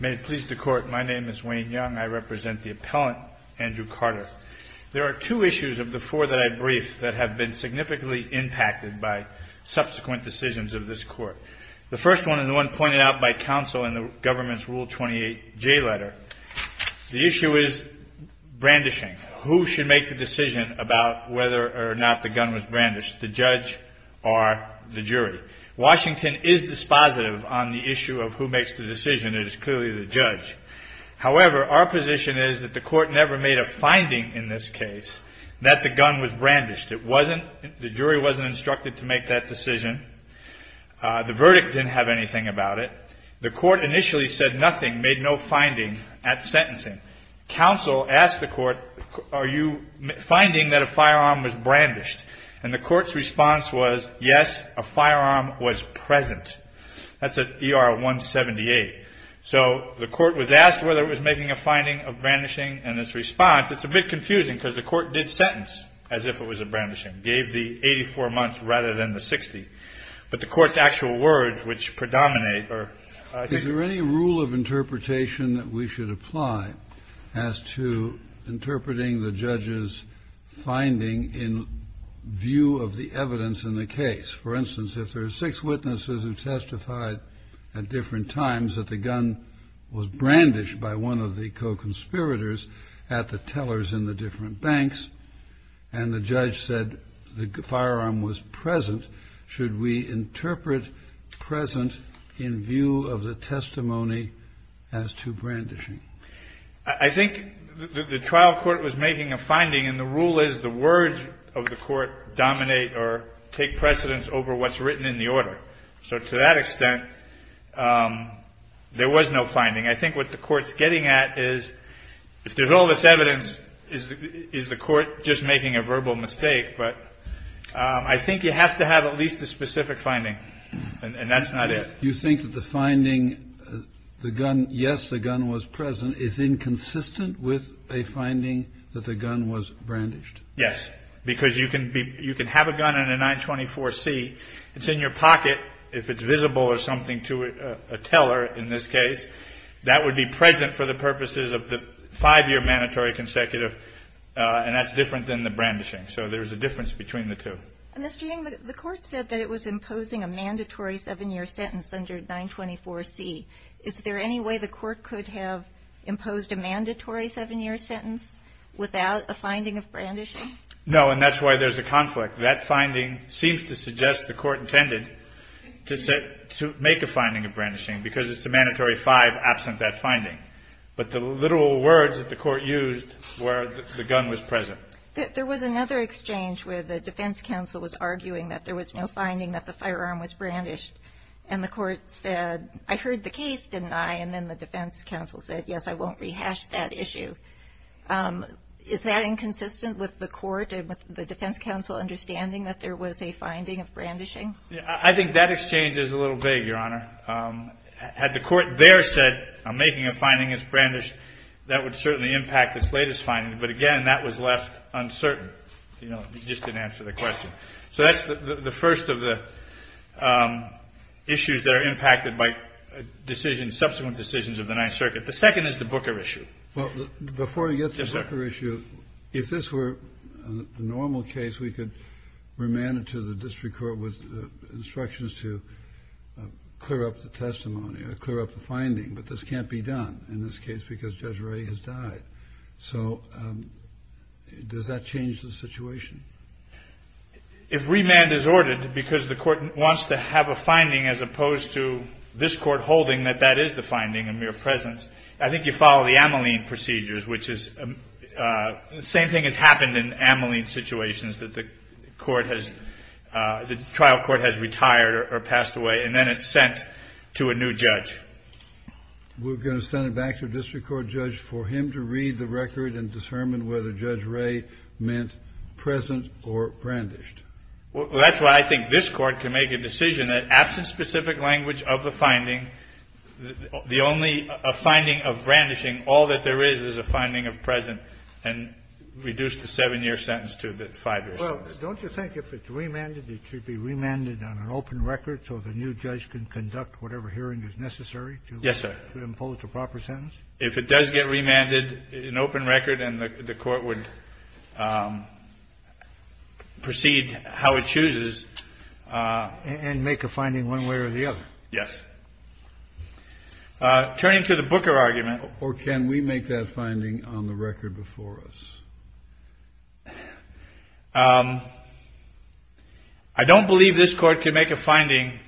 May it please the Court, my name is Wayne Young. I represent the appellant Andrew Carter. There are two issues of the four that I briefed that have been significantly impacted by subsequent decisions of this Court. The first one, and the one pointed out by counsel in the government's Rule 28J letter, the issue is brandishing. Who should make the decision about whether or not the gun was brandished, the judge or the jury? Washington is dispositive on the issue of who makes the decision. It is clearly the judge. However, our position is that the Court never made a finding in this case that the gun was brandished. It wasn't, the jury wasn't instructed to make that decision. The verdict didn't have anything about it. The judge did nothing, made no finding at sentencing. Counsel asked the Court, are you finding that a firearm was brandished? And the Court's response was, yes, a firearm was present. That's at ER 178. So the Court was asked whether it was making a finding of brandishing and its response. It's a bit confusing because the Court did sentence as if it was a brandishing, gave the 84 months rather than the 60. But the Court's actual words, which predominate are, I think- Is there any rule of interpretation that we should apply as to interpreting the judge's finding in view of the evidence in the case? For instance, if there are six witnesses who testified at different times that the gun was brandished by one of the co-conspirators at the tellers in the different banks, and the judge said the firearm was present, should we interpret present in view of the testimony as to brandishing? I think the trial court was making a finding, and the rule is the words of the Court dominate or take precedence over what's written in the order. So to that extent, there was no finding. I think what the Court's getting at is, if there's all this evidence, is the We have to have at least a specific finding, and that's not it. You think that the finding, the gun, yes, the gun was present, is inconsistent with a finding that the gun was brandished? Yes. Because you can be you can have a gun in a 924C. It's in your pocket. If it's visible or something to a teller, in this case, that would be present for the purposes of the five-year mandatory consecutive, and that's different than the brandishing. So there's a difference between the two. Mr. Yang, the Court said that it was imposing a mandatory seven-year sentence under 924C. Is there any way the Court could have imposed a mandatory seven-year sentence without a finding of brandishing? No, and that's why there's a conflict. That finding seems to suggest the Court intended to make a finding of brandishing, because it's a mandatory five absent that finding. But the literal words that the Court used were the gun was present. There was another exchange where the defense counsel was arguing that there was no finding that the firearm was brandished. And the Court said, I heard the case, didn't I? And then the defense counsel said, yes, I won't rehash that issue. Is that inconsistent with the Court and with the defense counsel understanding that there was a finding of brandishing? I think that exchange is a little vague, Your Honor. Had the Court there said, I'm making a finding that's brandished, that would certainly impact its latest finding. But again, that was left uncertain. You know, it just didn't answer the question. So that's the first of the issues that are impacted by decisions, subsequent decisions of the Ninth Circuit. The second is the Booker issue. Well, before you get to the Booker issue, if this were the normal case, we could remand it to the district court with instructions to clear up the testimony or clear up the finding. But this can't be done in this case because Judge Ray has died. So does that change the situation? If remand is ordered because the Court wants to have a finding as opposed to this court holding that that is the finding, a mere presence, I think you follow the Ameline procedures, which is the same thing has happened in Ameline situations that the trial court has retired or passed away. And then it's sent to a new judge. We're going to send it back to a district court judge for him to read the record and determine whether Judge Ray meant present or brandished. Well, that's why I think this Court can make a decision that absent specific language of the finding, the only finding of brandishing, all that there is, is a finding of present and reduce the seven-year sentence to the five-year sentence. Don't you think if it's remanded, it should be remanded on an open record so the new judge can conduct whatever hearing is necessary to impose the proper sentence? Yes, sir. If it does get remanded, an open record and the Court would proceed how it chooses. And make a finding one way or the other. Yes. Turning to the Booker argument. Or can we make that finding on the record before us? I don't believe this Court can make a finding,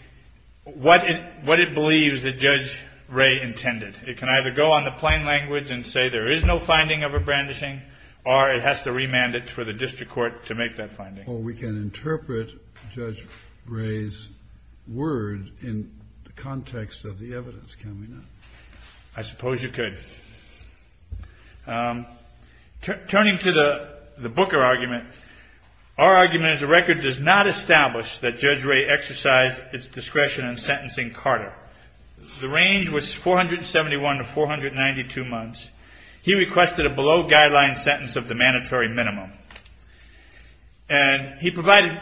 what it believes that Judge Ray intended. It can either go on the plain language and say there is no finding of a brandishing or it has to remand it for the district court to make that finding. Or we can interpret Judge Ray's word in the context of the evidence. Can we not? I suppose you could. Turning to the Booker argument, our argument is the record does not establish that Judge Ray exercised its discretion in sentencing Carter. The range was 471 to 492 months. He requested a below-guideline sentence of the mandatory minimum. And he provided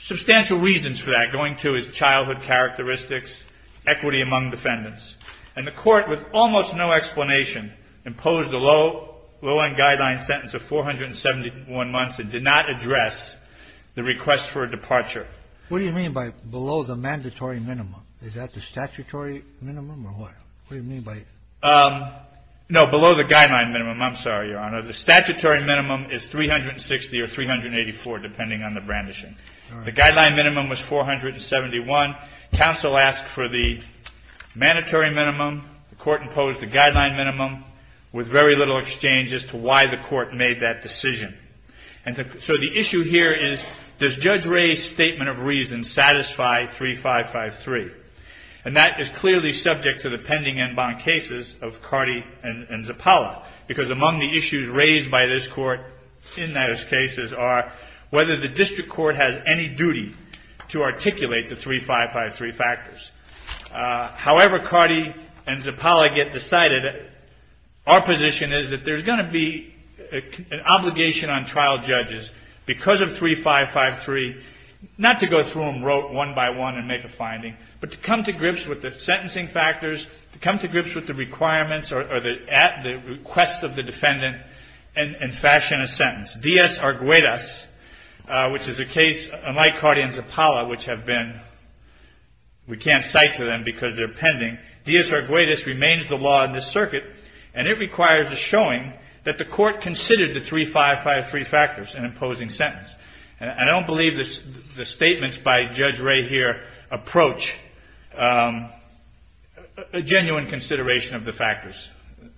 substantial reasons for that, going to his childhood characteristics, equity among defendants. And the Court, with almost no explanation, imposed a low-end guideline sentence of 471 months and did not address the request for a departure. What do you mean by below the mandatory minimum? Is that the statutory minimum or what? What do you mean by? No, below the guideline minimum. I'm sorry, Your Honor. The statutory minimum is 360 or 384, depending on the brandishing. The guideline minimum was 471. Counsel asked for the mandatory minimum. The Court imposed the guideline minimum with very little exchange as to why the Court made that decision. And so the issue here is, does Judge Ray's statement of reason satisfy 3553? And that is clearly subject to the pending inbound cases of Cardi and Zappala. Because among the issues raised by this Court in those cases are whether the defendant is guilty of the 3553 factors. However, Cardi and Zappala get decided, our position is that there's going to be an obligation on trial judges, because of 3553, not to go through them one by one and make a finding, but to come to grips with the sentencing factors, to come to grips with the requirements or the request of the defendant, and fashion a sentence. DS Arguedas, which is a case, unlike Cardi and Zappala, which have been, we can't cite to them because they're pending, DS Arguedas remains the law in this circuit, and it requires a showing that the Court considered the 3553 factors in imposing sentence. And I don't believe the statements by Judge Ray here approach a genuine consideration of the factors.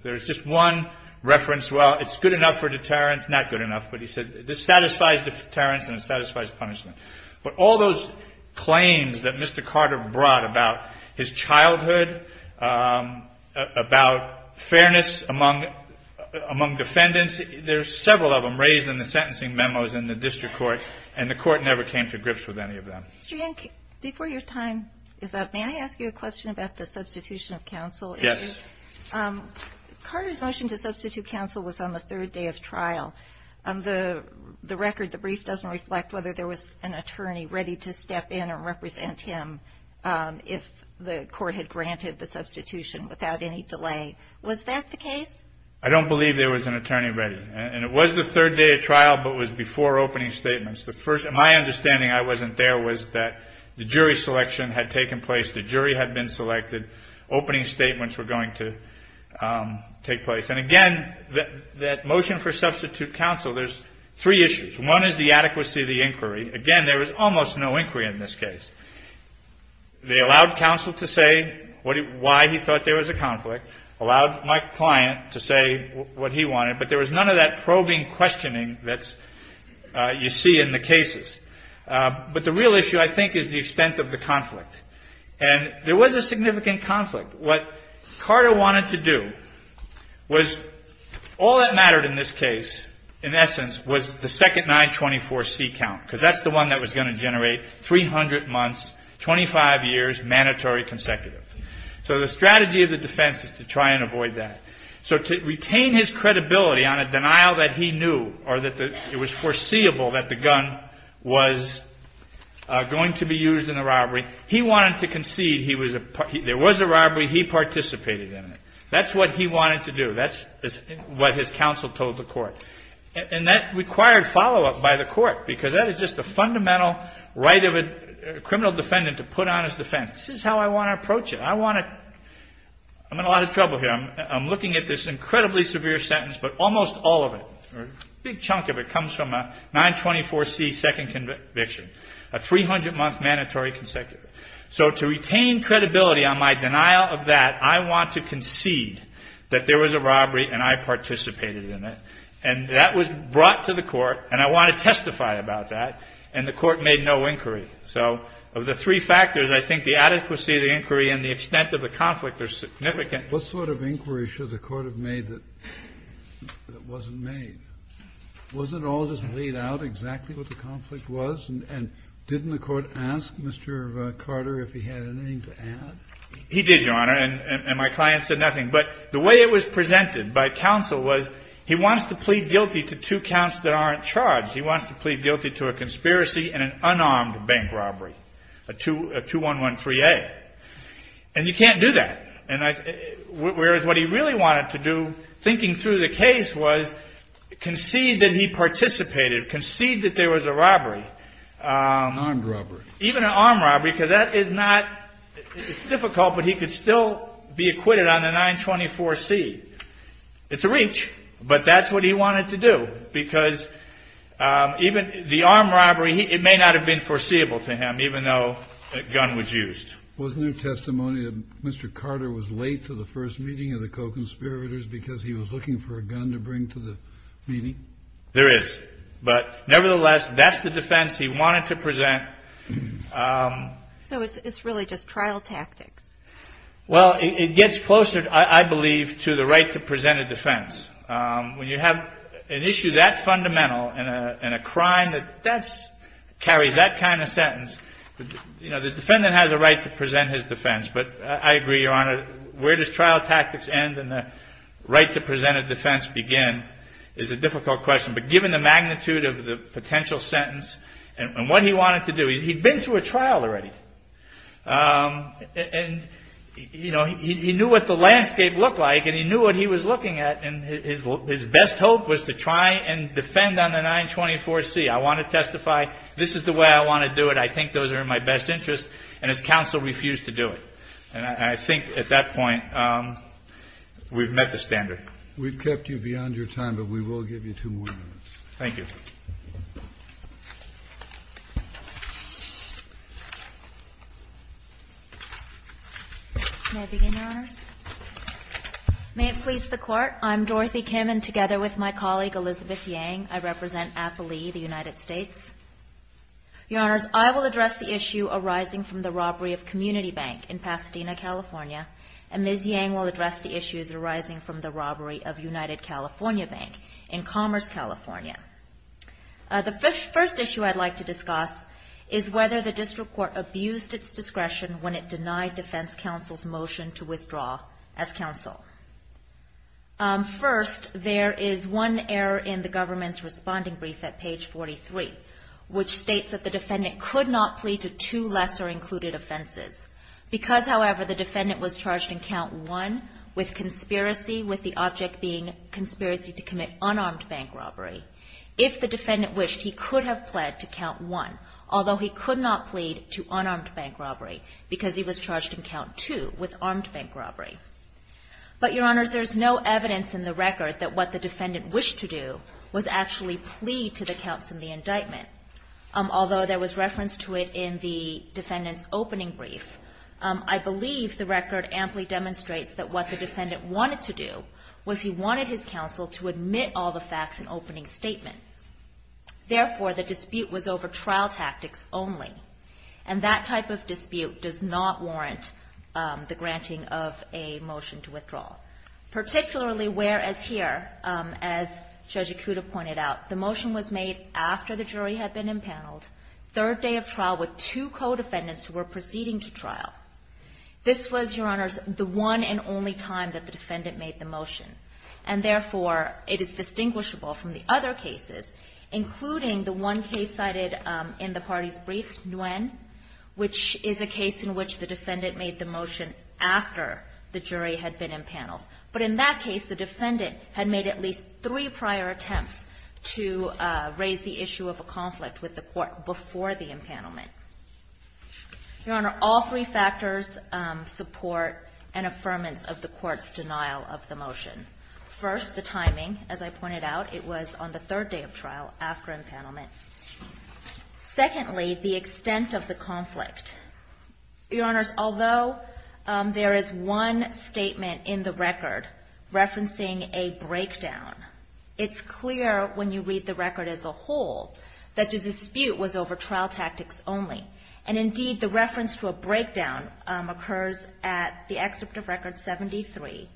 There's just one reference. Well, it's good enough for deterrence. It's not good enough, but he said, this satisfies deterrence and it satisfies punishment. But all those claims that Mr. Carter brought about his childhood, about fairness among defendants, there's several of them raised in the sentencing memos in the district court, and the court never came to grips with any of them. Ms. Jankins, before your time is up, may I ask you a question about the substitution of counsel? Yes. Carter's motion to substitute counsel was on the third day of trial. The record, the brief, doesn't reflect whether there was an attorney ready to step in and represent him if the court had granted the substitution without any delay. Was that the case? I don't believe there was an attorney ready. And it was the third day of trial, but it was before opening statements. The first, my understanding, I wasn't there, was that the jury selection had taken place. The jury had been selected. Opening statements were going to take place. And again, that motion for substitute counsel, there's three issues. One is the adequacy of the inquiry. Again, there was almost no inquiry in this case. They allowed counsel to say why he thought there was a conflict, allowed my client to say what he wanted, but there was none of that probing questioning that you see in the cases. But the real issue, I think, is the extent of the conflict. And there was a significant conflict. What Carter wanted to do was, all that mattered in this case, in essence, was the second 924C count, because that's the one that was going to generate 300 months, 25 years, mandatory consecutive. So the strategy of the defense is to try and avoid that. So to retain his credibility on a denial that he knew or that it was foreseeable that the gun was going to be used in the robbery, he wanted to concede there was a robbery, he participated in it. That's what he wanted to do. That's what his counsel told the court. And that required follow-up by the court, because that is just the fundamental right of a criminal defendant to put on his defense. This is how I want to approach it. I'm in a lot of trouble here. I'm looking at this incredibly severe sentence, but almost all of it, a big chunk of it, comes from a 924C second conviction, a 300-month mandatory consecutive. So to retain credibility on my denial of that, I want to concede that there was a robbery and I participated in it. And that was brought to the court, and I want to testify about that, and the court made no inquiry. So of the three factors, I think the adequacy of the inquiry and the extent of the conflict are significant. What sort of inquiry should the court have made that wasn't made? Was it all just laid out exactly what the conflict was? And didn't the court ask Mr. Carter if he had anything to add? He did, Your Honor, and my client said nothing. But the way it was presented by counsel was he wants to plead guilty to two counts that aren't charged. He wants to plead guilty to a conspiracy and an unarmed bank robbery, a 2113A. And you can't do that. And I, whereas what he really wanted to do, thinking through the case, was concede that he participated, concede that there was a robbery, even an armed robbery, because that is not, it's difficult, but he could still be acquitted on the 924C. It's a reach, but that's what he wanted to do, because even the armed robbery, it may not have been foreseeable to him, even though a gun was used. Wasn't there testimony that Mr. Carter was late to the first meeting of the co-conspirators because he was looking for a gun to bring to the meeting? There is, but nevertheless, that's the defense he wanted to present. So it's really just trial tactics. Well, it gets closer, I believe, to the right to present a defense. When you have an issue that fundamental in a crime that carries that kind of right to present his defense, but I agree, Your Honor, where does trial tactics end and the right to present a defense begin is a difficult question. But given the magnitude of the potential sentence and what he wanted to do, he'd been through a trial already, and he knew what the landscape looked like and he knew what he was looking at, and his best hope was to try and defend on the 924C. I want to testify. This is the way I want to do it. I think those are in my best interest, and his counsel refused to do it. And I think at that point, we've met the standard. We've kept you beyond your time, but we will give you two more minutes. Thank you. May it please the Court. I'm Dorothy Kim, and together with my colleague, Elizabeth Yang, I represent AFLI, the United States. Your Honors, I will address the issue arising from the robbery of Community Bank in Pasadena, California, and Ms. Yang will address the issues arising from the robbery of United California Bank in Commerce, California. The first issue I'd like to discuss is whether the district court abused its discretion when it denied defense counsel's motion to withdraw as counsel. First, there is one error in the government's responding brief at page 43. Which states that the defendant could not plead to two lesser included offenses. Because, however, the defendant was charged in count one with conspiracy, with the object being conspiracy to commit unarmed bank robbery, if the defendant wished, he could have pled to count one, although he could not plead to unarmed bank robbery, because he was charged in count two with armed bank robbery. But, Your Honors, there's no evidence in the record that what the defendant wished to do was actually plead to the counts in the indictment, although there was reference to it in the defendant's opening brief. I believe the record amply demonstrates that what the defendant wanted to do was he wanted his counsel to admit all the facts in opening statement. Therefore, the dispute was over trial tactics only. And that type of dispute does not warrant the granting of a motion to withdrawal. Particularly where, as here, as Judge Ikuda pointed out, the motion was made after the jury had been impaneled, third day of trial with two co-defendants who were proceeding to trial. This was, Your Honors, the one and only time that the defendant made the motion. And therefore, it is distinguishable from the other cases, including the one case cited in the party's brief, Nguyen, which is a case in which the defendant made the motion after the jury had been impaneled. But in that case, the defendant had made at least three prior attempts to raise the issue of a conflict with the court before the impanelment. Your Honor, all three factors support an affirmance of the court's denial of the motion. First, the timing. As I pointed out, it was on the third day of trial, after impanelment. Secondly, the extent of the conflict. Your Honors, although there is one statement in the record referencing a breakdown, it's clear when you read the record as a whole that the dispute was over trial tactics only. And indeed, the reference to a breakdown occurs at the excerpt of Record 73,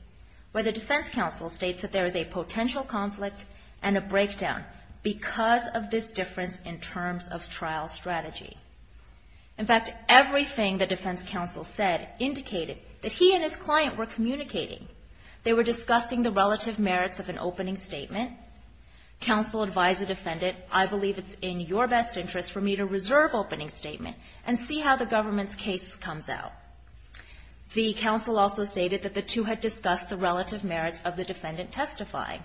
where the defense counsel states that there is a potential conflict and a breakdown because of this difference in terms of trial strategy. In fact, everything the defense counsel said indicated that he and his client were communicating. They were discussing the relative merits of an opening statement. Counsel advised the defendant, I believe it's in your best interest for me to reserve opening statement and see how the government's case comes out. The counsel also stated that the two had discussed the relative merits of the defendant testifying,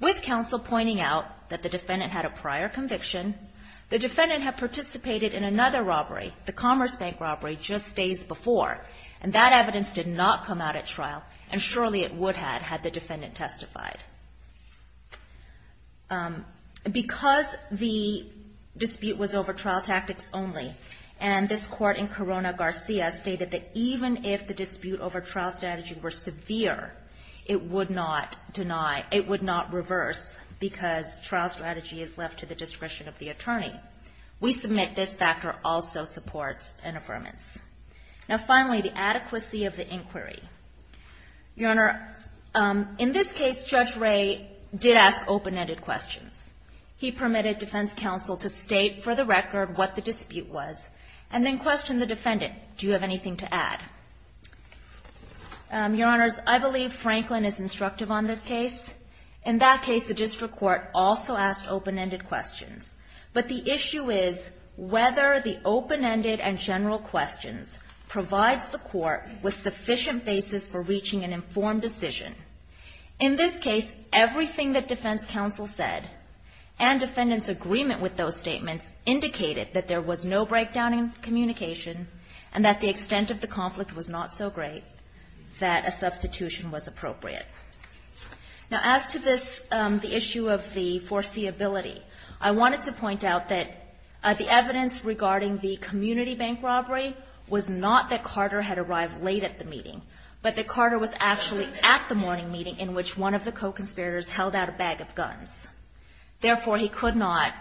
with counsel pointing out that the defendant had a prior conviction. The defendant had participated in another robbery, the Commerce Bank robbery, just days before. And that evidence did not come out at trial, and surely it would had, had the defendant testified. Because the dispute was over trial tactics only, and this court in Corona Garcia stated that even if the dispute over trial strategy were severe, it would not the attorney. We submit this factor also supports an affirmance. Now finally, the adequacy of the inquiry. Your Honor, in this case, Judge Ray did ask open-ended questions. He permitted defense counsel to state for the record what the dispute was, and then question the defendant, do you have anything to add? Your Honors, I believe Franklin is instructive on this case. In that case, the district court also asked open-ended questions. But the issue is whether the open-ended and general questions provides the court with sufficient basis for reaching an informed decision. In this case, everything that defense counsel said, and defendant's agreement with those statements, indicated that there was no breakdown in communication, and that the extent of the conflict was not so great, that a substitution was appropriate. Now, as to this, the issue of the foreseeability, I wanted to point out that the evidence regarding the community bank robbery was not that Carter had arrived late at the meeting, but that Carter was actually at the morning meeting in which one of the co-conspirators held out a bag of guns. Therefore, he could not,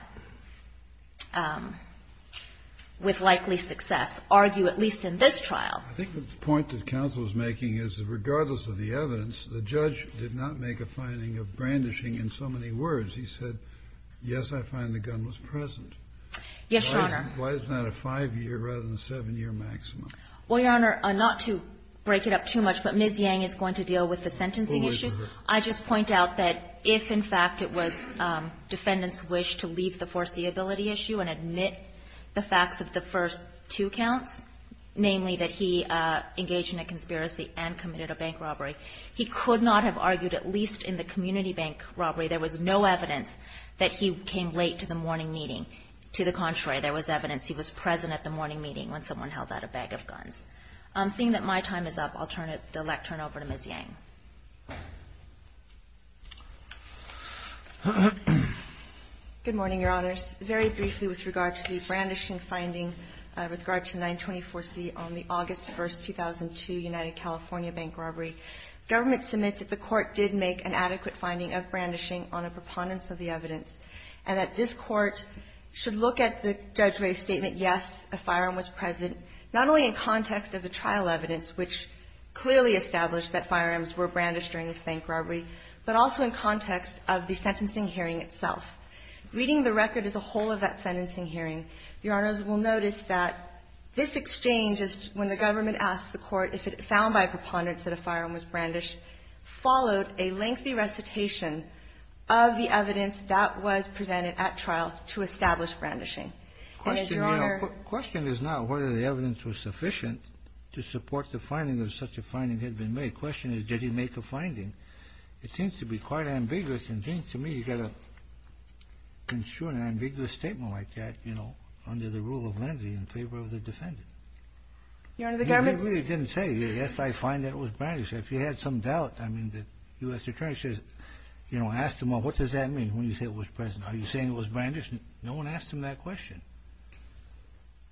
with likely success, argue, at least in this trial. I think the point that counsel is making is that regardless of the evidence, the judge did not make a finding of brandishing in so many words. He said, yes, I find the gun was present. Yes, Your Honor. Why is that a 5-year rather than a 7-year maximum? Well, Your Honor, not to break it up too much, but Ms. Yang is going to deal with the sentencing issues. I just point out that if, in fact, it was defendant's wish to leave the foreseeability issue and admit the facts of the first two counts, namely that he engaged in a conspiracy and committed a bank robbery, he could not have argued, at least in the community bank robbery, there was no evidence that he came late to the morning meeting. To the contrary, there was evidence he was present at the morning meeting when someone held out a bag of guns. Seeing that my time is up, I'll turn it, the elect, turn it over to Ms. Yang. Good morning, Your Honors. Very briefly with regard to the brandishing finding with regard to 924C on the August 1st, 2002, United California bank robbery, government submits that the Court did make an adequate finding of brandishing on a preponderance of the evidence, and that this Court should look at the judge's statement, yes, a firearm was present, not only in context of the trial evidence, which clearly established that firearms were brandished during this bank robbery, but also in context of the sentencing hearing itself. Reading the record as a whole of that sentencing hearing, Your Honors, we'll notice that this exchange is when the government asked the Court if it found by preponderance that a firearm was brandished, followed a lengthy recitation of the evidence that was presented at trial to establish brandishing. And as Your Honor ---- The question is not whether the evidence was sufficient to support the finding or such a finding had been made. The question is, did he make a finding? It seems to be quite ambiguous and seems to me you've got to construe an ambiguous statement like that, you know, under the rule of lenity in favor of the defendant. Your Honor, the government ---- He really didn't say, yes, I find that it was brandished. If you had some doubt, I mean, the U.S. Attorney says, you know, ask them, well, what does that mean when you say it was present? Are you saying it was brandished? No one asked him that question.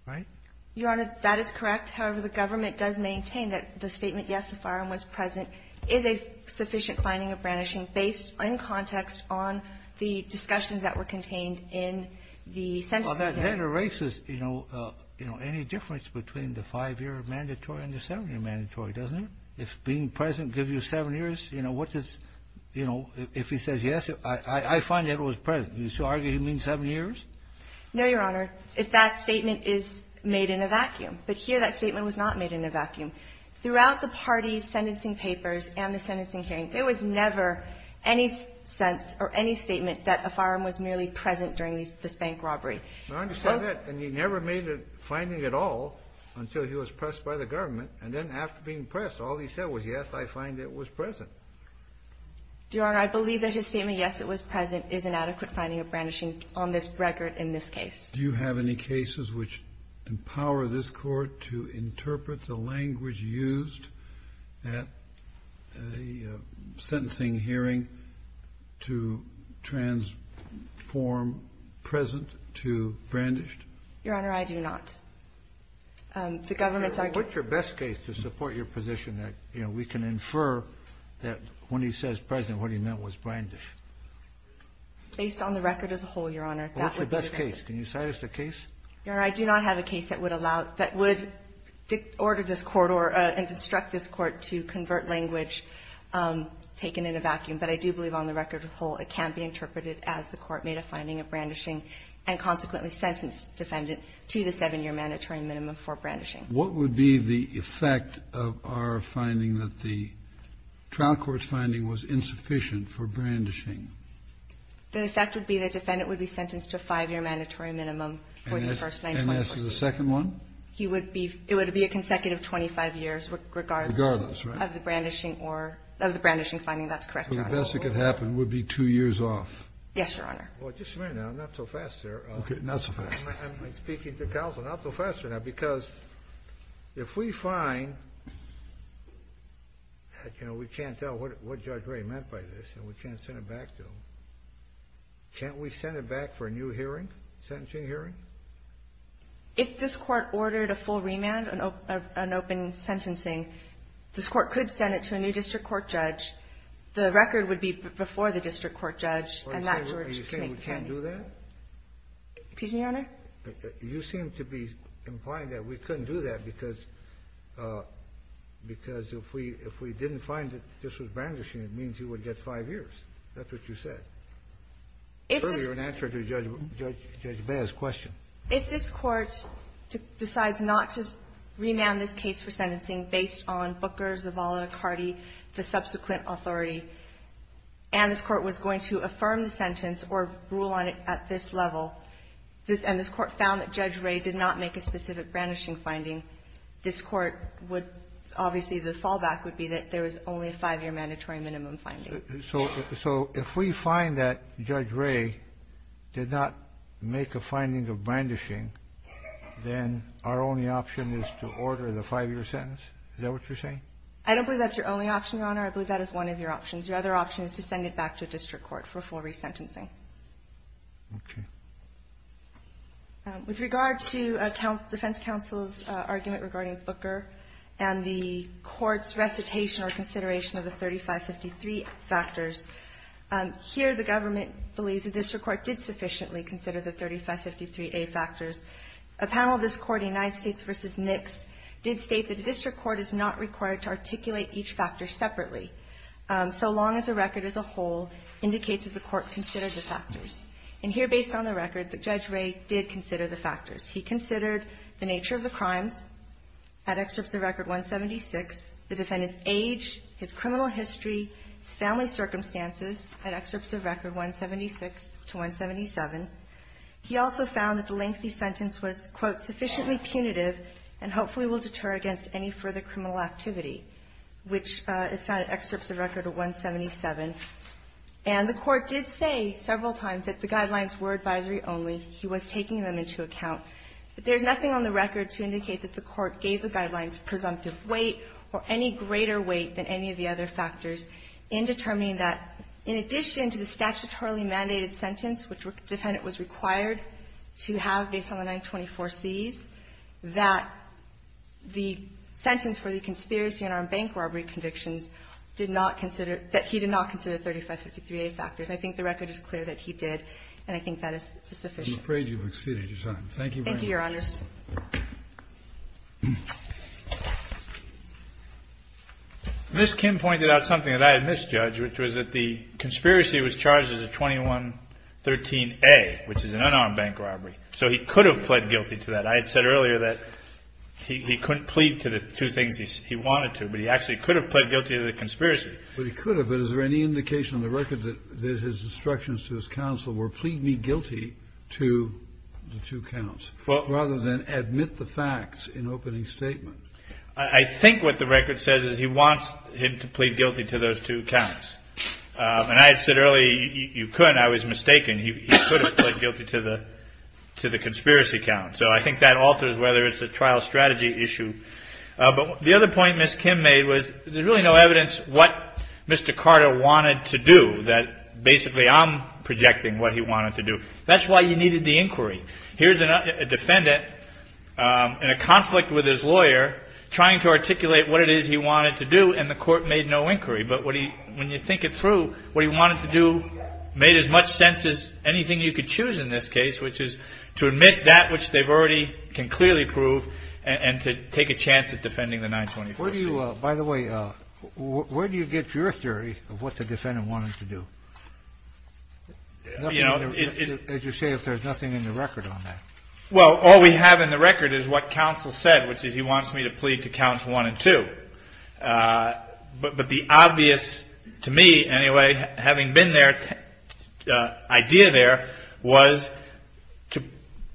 Right? Your Honor, that is correct. However, the government does maintain that the statement, yes, the firearm was present, is a sufficient finding of brandishing based in context on the discussions that were contained in the sentencing hearing. Well, that erases, you know, any difference between the 5-year mandatory and the 7-year mandatory, doesn't it? If being present gives you 7 years, you know, what does, you know, if he says yes, I find that it was present. You still argue he means 7 years? No, Your Honor. In fact, statement is made in a vacuum. But here, that statement was not made in a vacuum. Throughout the parties' sentencing papers and the sentencing hearing, there was never any sense or any statement that a firearm was merely present during this bank robbery. Your Honor, he said that, and he never made a finding at all until he was pressed by the government. And then after being pressed, all he said was, yes, I find it was present. Your Honor, I believe that his statement, yes, it was present, is an adequate finding of brandishing on this record in this case. Do you have any cases which empower this Court to interpret the language used at the sentencing hearing to transform present to brandished? Your Honor, I do not. The government's argument to support your position that, you know, we can infer that when he says present, what he meant was brandished. Based on the record as a whole, Your Honor, that would be the case. Well, what's your best case? Can you cite us the case? Your Honor, I do not have a case that would allow, that would order this Court or construct this Court to convert language taken in a vacuum. But I do believe on the record as a whole, it can be interpreted as the Court made a finding of brandishing and consequently sentenced defendant to the 7-year mandatory minimum for brandishing. What would be the effect of our finding that the trial court's finding was insufficient for brandishing? The effect would be the defendant would be sentenced to a 5-year mandatory minimum for the first 9-year mandatory minimum. And as for the second one? He would be, it would be a consecutive 25 years regardless. Regardless, right. Of the brandishing or, of the brandishing finding, that's correct, Your Honor. So the best that could happen would be 2 years off? Yes, Your Honor. Well, just a minute now, not so fast, sir. Okay, not so fast. I'm speaking to counsel, not so fast right now, because if we find that, you know, we can't tell what Judge Ray meant by this and we can't send it back to him, can't we send it back for a new hearing, sentencing hearing? If this Court ordered a full remand, an open sentencing, this Court could send it to a new district court judge. The record would be before the district court judge and that judge could make that. Are you saying we can't do that? Excuse me, Your Honor? You seem to be implying that we couldn't do that because if we didn't find that this was brandishing, it means you would get 5 years. That's what you said. It's an answer to Judge Bea's question. If this Court decides not to remand this case for sentencing based on Booker's, Zavala, Cardi, the subsequent authority, and this Court was going to affirm the sentence or rule on it at this level, and this Court found that Judge Ray did not make a specific brandishing finding, this Court would, obviously, the fallback would be that there was only a 5-year mandatory minimum finding. So if we find that Judge Ray did not make a finding of brandishing, then our only option is to order the 5-year sentence? Is that what you're saying? I don't believe that's your only option, Your Honor. I believe that is one of your options. Your other option is to send it back to a district court for full resentencing. Okay. With regard to defense counsel's argument regarding Booker and the Court's recitation or consideration of the 3553 factors, here the government believes the district court did sufficiently consider the 3553A factors. A panel of this Court, United States v. Nix, did state that the district court is not required to articulate each factor separately. So long as the record as a whole indicates that the Court considered the factors. And here, based on the record, Judge Ray did consider the factors. He considered the nature of the crimes at Excerpts of Record 176, the defendant's age, his criminal history, his family circumstances at Excerpts of Record 176 to 177. He also found that the lengthy sentence was, quote, sufficiently punitive and hopefully will deter against any further criminal activity, which is found in Excerpts of Record 177. And the Court did say several times that the guidelines were advisory only. He was taking them into account. But there's nothing on the record to indicate that the Court gave the guidelines presumptive weight or any greater weight than any of the other factors in determining that, in addition to the statutorily mandated sentence which the defendant was required to have based on the 924Cs, that the sentence for the conspiracy and unarmed bank robbery convictions did not consider, that he did not consider 3553A factors. And I think the record is clear that he did, and I think that is sufficient. Kennedy, I'm afraid you've exceeded your time. Thank you very much. Thank you, Your Honors. Mr. Kim pointed out something that I had misjudged, which was that the conspiracy was charged as a 2113A, which is an unarmed bank robbery. So he could have pled guilty to that. I had said earlier that he couldn't plead to the two things he wanted to, but he actually could have pled guilty to the conspiracy. But he could have, but is there any indication on the record that his instructions to his counsel were, plead me guilty to the two counts, rather than admit the facts in opening statement? I think what the record says is he wants him to plead guilty to those two counts. And I had said earlier, you couldn't. I was mistaken. He could have pled guilty to the conspiracy count. So I think that alters whether it's a trial strategy issue. But the other point Ms. Kim made was there's really no evidence what Mr. Carter wanted to do, that basically I'm projecting what he wanted to do. That's why you needed the inquiry. Here's a defendant in a conflict with his lawyer trying to articulate what it is he wanted to do, and the Court made no inquiry. But when you think it through, what he wanted to do made as much sense as anything you could choose in this case, which is to admit that which they've already can clearly prove and to take a chance at defending the 921C. By the way, where do you get your theory of what the defendant wanted to do? As you say, if there's nothing in the record on that. Well, all we have in the record is what counsel said, which is he wants me to plead to counts one and two. But the obvious, to me anyway, having been there, idea there was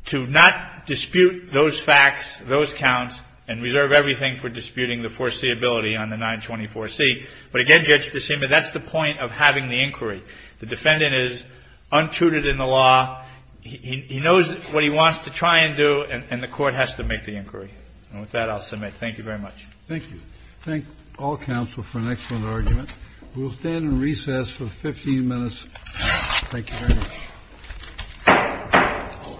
to not dispute those facts, those counts, and reserve everything for disputing the foreseeability on the 924C. But again, Judge DeSima, that's the point of having the inquiry. The defendant is untutored in the law. He knows what he wants to try and do, and the Court has to make the inquiry. And with that, I'll submit. Thank you very much. Thank you. Thank all counsel for an excellent argument. We'll stand in recess for 15 minutes. Thank you very much.